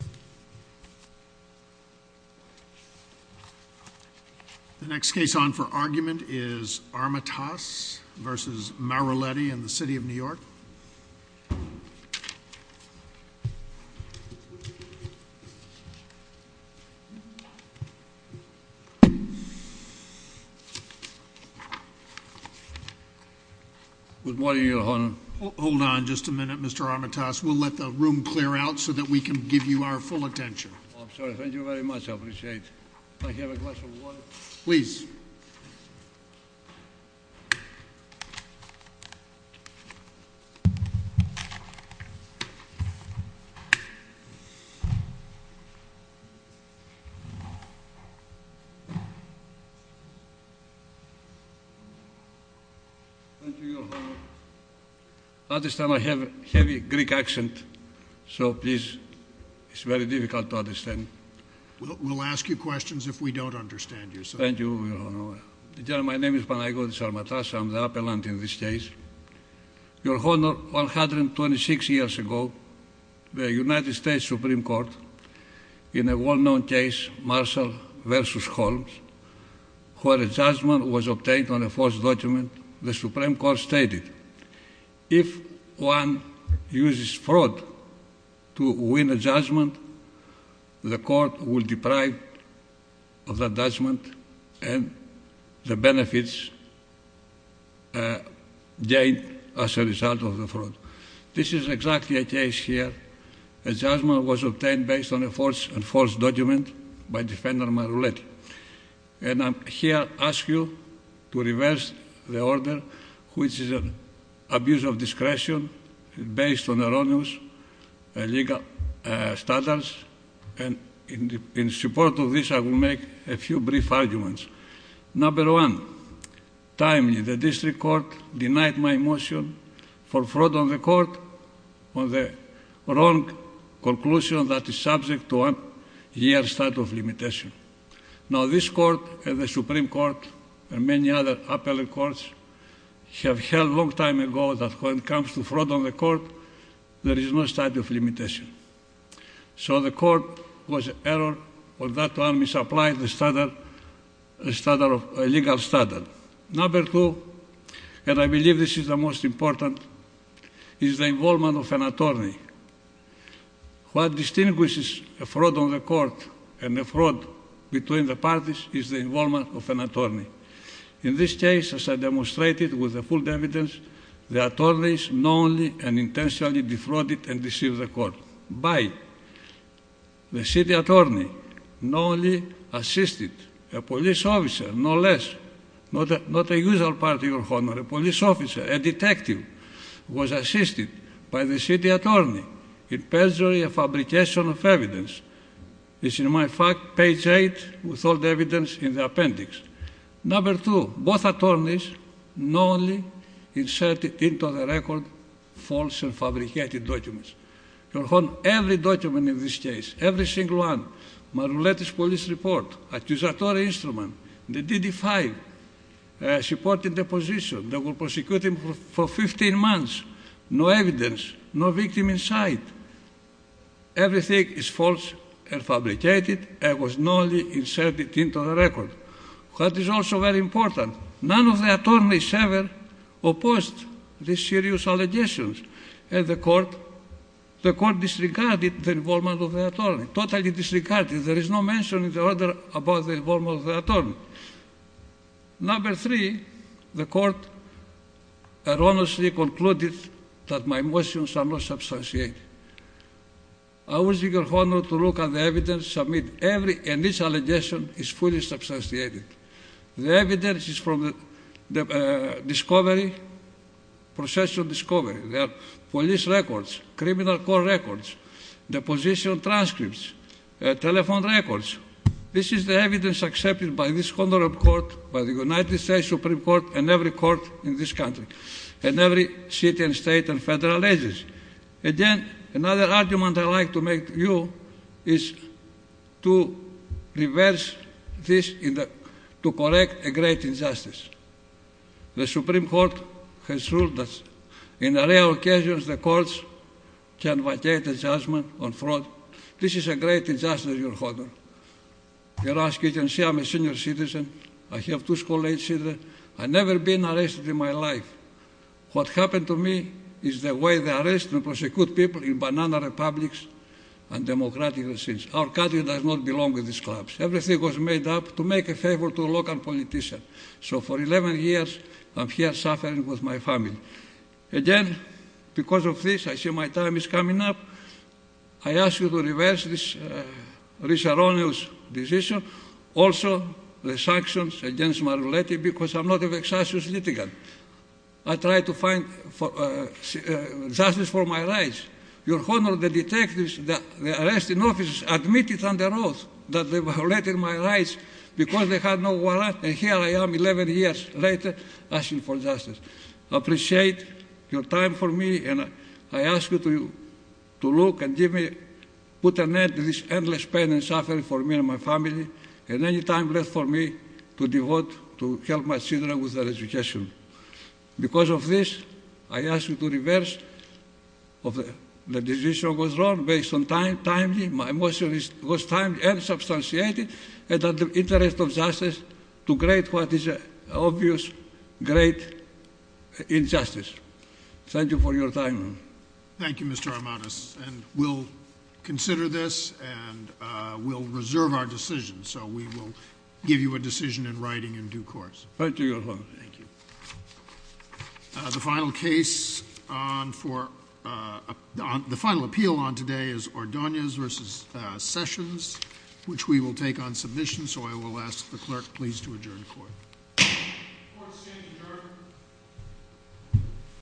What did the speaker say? The next case on for argument is Armatas v. Maroulleti in the City of New York. Good morning, Your Honor. Hold on just a minute, Mr. Armatas. We'll let the room clear out so that we can give you our full attention. I'm sorry. Thank you very much. I appreciate it. Please. Thank you, Your Honor. I understand I have a heavy Greek accent, so please, it's very difficult to understand. We'll ask you questions if we don't understand you. Thank you, Your Honor. My name is Panagiotis Armatas. I'm the appellant in this case. Your Honor, 126 years ago, the United States Supreme Court, in a well-known case, Marshall v. Holmes, where a judgment was obtained on a false document, the Supreme Court stated, if one uses fraud to win a judgment, the court will deprive of that judgment, and the benefits gained as a result of the fraud. This is exactly a case here. A judgment was obtained based on a false document by Defendant Maroulleti. And I'm here to ask you to reverse the order, which is an abuse of discretion based on erroneous legal standards. And in support of this, I will make a few brief arguments. Number one, timely, the district court denied my motion for fraud on the court on the wrong conclusion that is subject to a year's statute of limitation. Now, this court, and the Supreme Court, and many other appellate courts, have held a long time ago that when it comes to fraud on the court, there is no statute of limitation. So the court was error, or that one misapplied the legal standard. Number two, and I believe this is the most important, is the involvement of an attorney. What distinguishes a fraud on the court and a fraud between the parties is the involvement of an attorney. In this case, as I demonstrated with the full evidence, the attorneys not only intentionally defrauded and deceived the court, but the city attorney not only assisted a police officer, no less. Not a usual party, your honor, a police officer, a detective was assisted by the city attorney in perjury of fabrication of evidence. This is my fact, page eight, with all the evidence in the appendix. Number two, both attorneys not only inserted into the record false and fabricated documents. Your honor, every document in this case, every single one, my latest police report, accusatory instrument, the DD-5, supporting the position, they were prosecuting for 15 months, no evidence, no victim in sight. Everything is false and fabricated and was not only inserted into the record. What is also very important, none of the attorneys ever opposed these serious allegations. And the court, the court disregarded the involvement of the attorney, totally disregarded. There is no mention in the order about the involvement of the attorney. Number three, the court erroneously concluded that my motions are not substantiated. I would seek your honor to look at the evidence submitted. Every initial allegation is fully substantiated. The evidence is from the discovery, process of discovery. There are police records, criminal court records, deposition transcripts, telephone records. This is the evidence accepted by this court, by the United States Supreme Court, and every court in this country, and every city and state and federal agency. Again, another argument I'd like to make to you is to reverse this, to correct a great injustice. The Supreme Court has ruled that in real occasions the courts can vacate a judgment on fraud. This is a great injustice, your honor. You can see I'm a senior citizen. I have two school-age children. I've never been arrested in my life. What happened to me is the way they arrest and prosecute people in banana republics and democratic regimes. Our country does not belong to these clubs. Everything was made up to make a favor to a local politician. So for 11 years, I'm here suffering with my family. Again, because of this, I see my time is coming up. I ask you to reverse this erroneous decision. Also, the sanctions against my relatives, because I'm not an excessive litigant. I try to find justice for my rights. Your honor, the detectives, the arresting officers admitted under oath that they violated my rights because they had no warrant. And here I am, 11 years later, asking for justice. I appreciate your time for me, and I ask you to look and put an end to this endless pain and suffering for me and my family. And any time left for me to devote to help my children with their education. Because of this, I ask you to reverse the decision was wrong based on time. My motion was time and substantiated and under the interest of justice to create what is an obvious great injustice. Thank you for your time. Thank you, Mr. Armanis. And we'll consider this, and we'll reserve our decision. So we will give you a decision in writing in due course. Thank you, your honor. Thank you. The final appeal on today is Ordonez v. Sessions, which we will take on submission. So I will ask the clerk please to adjourn the court. Court is adjourned.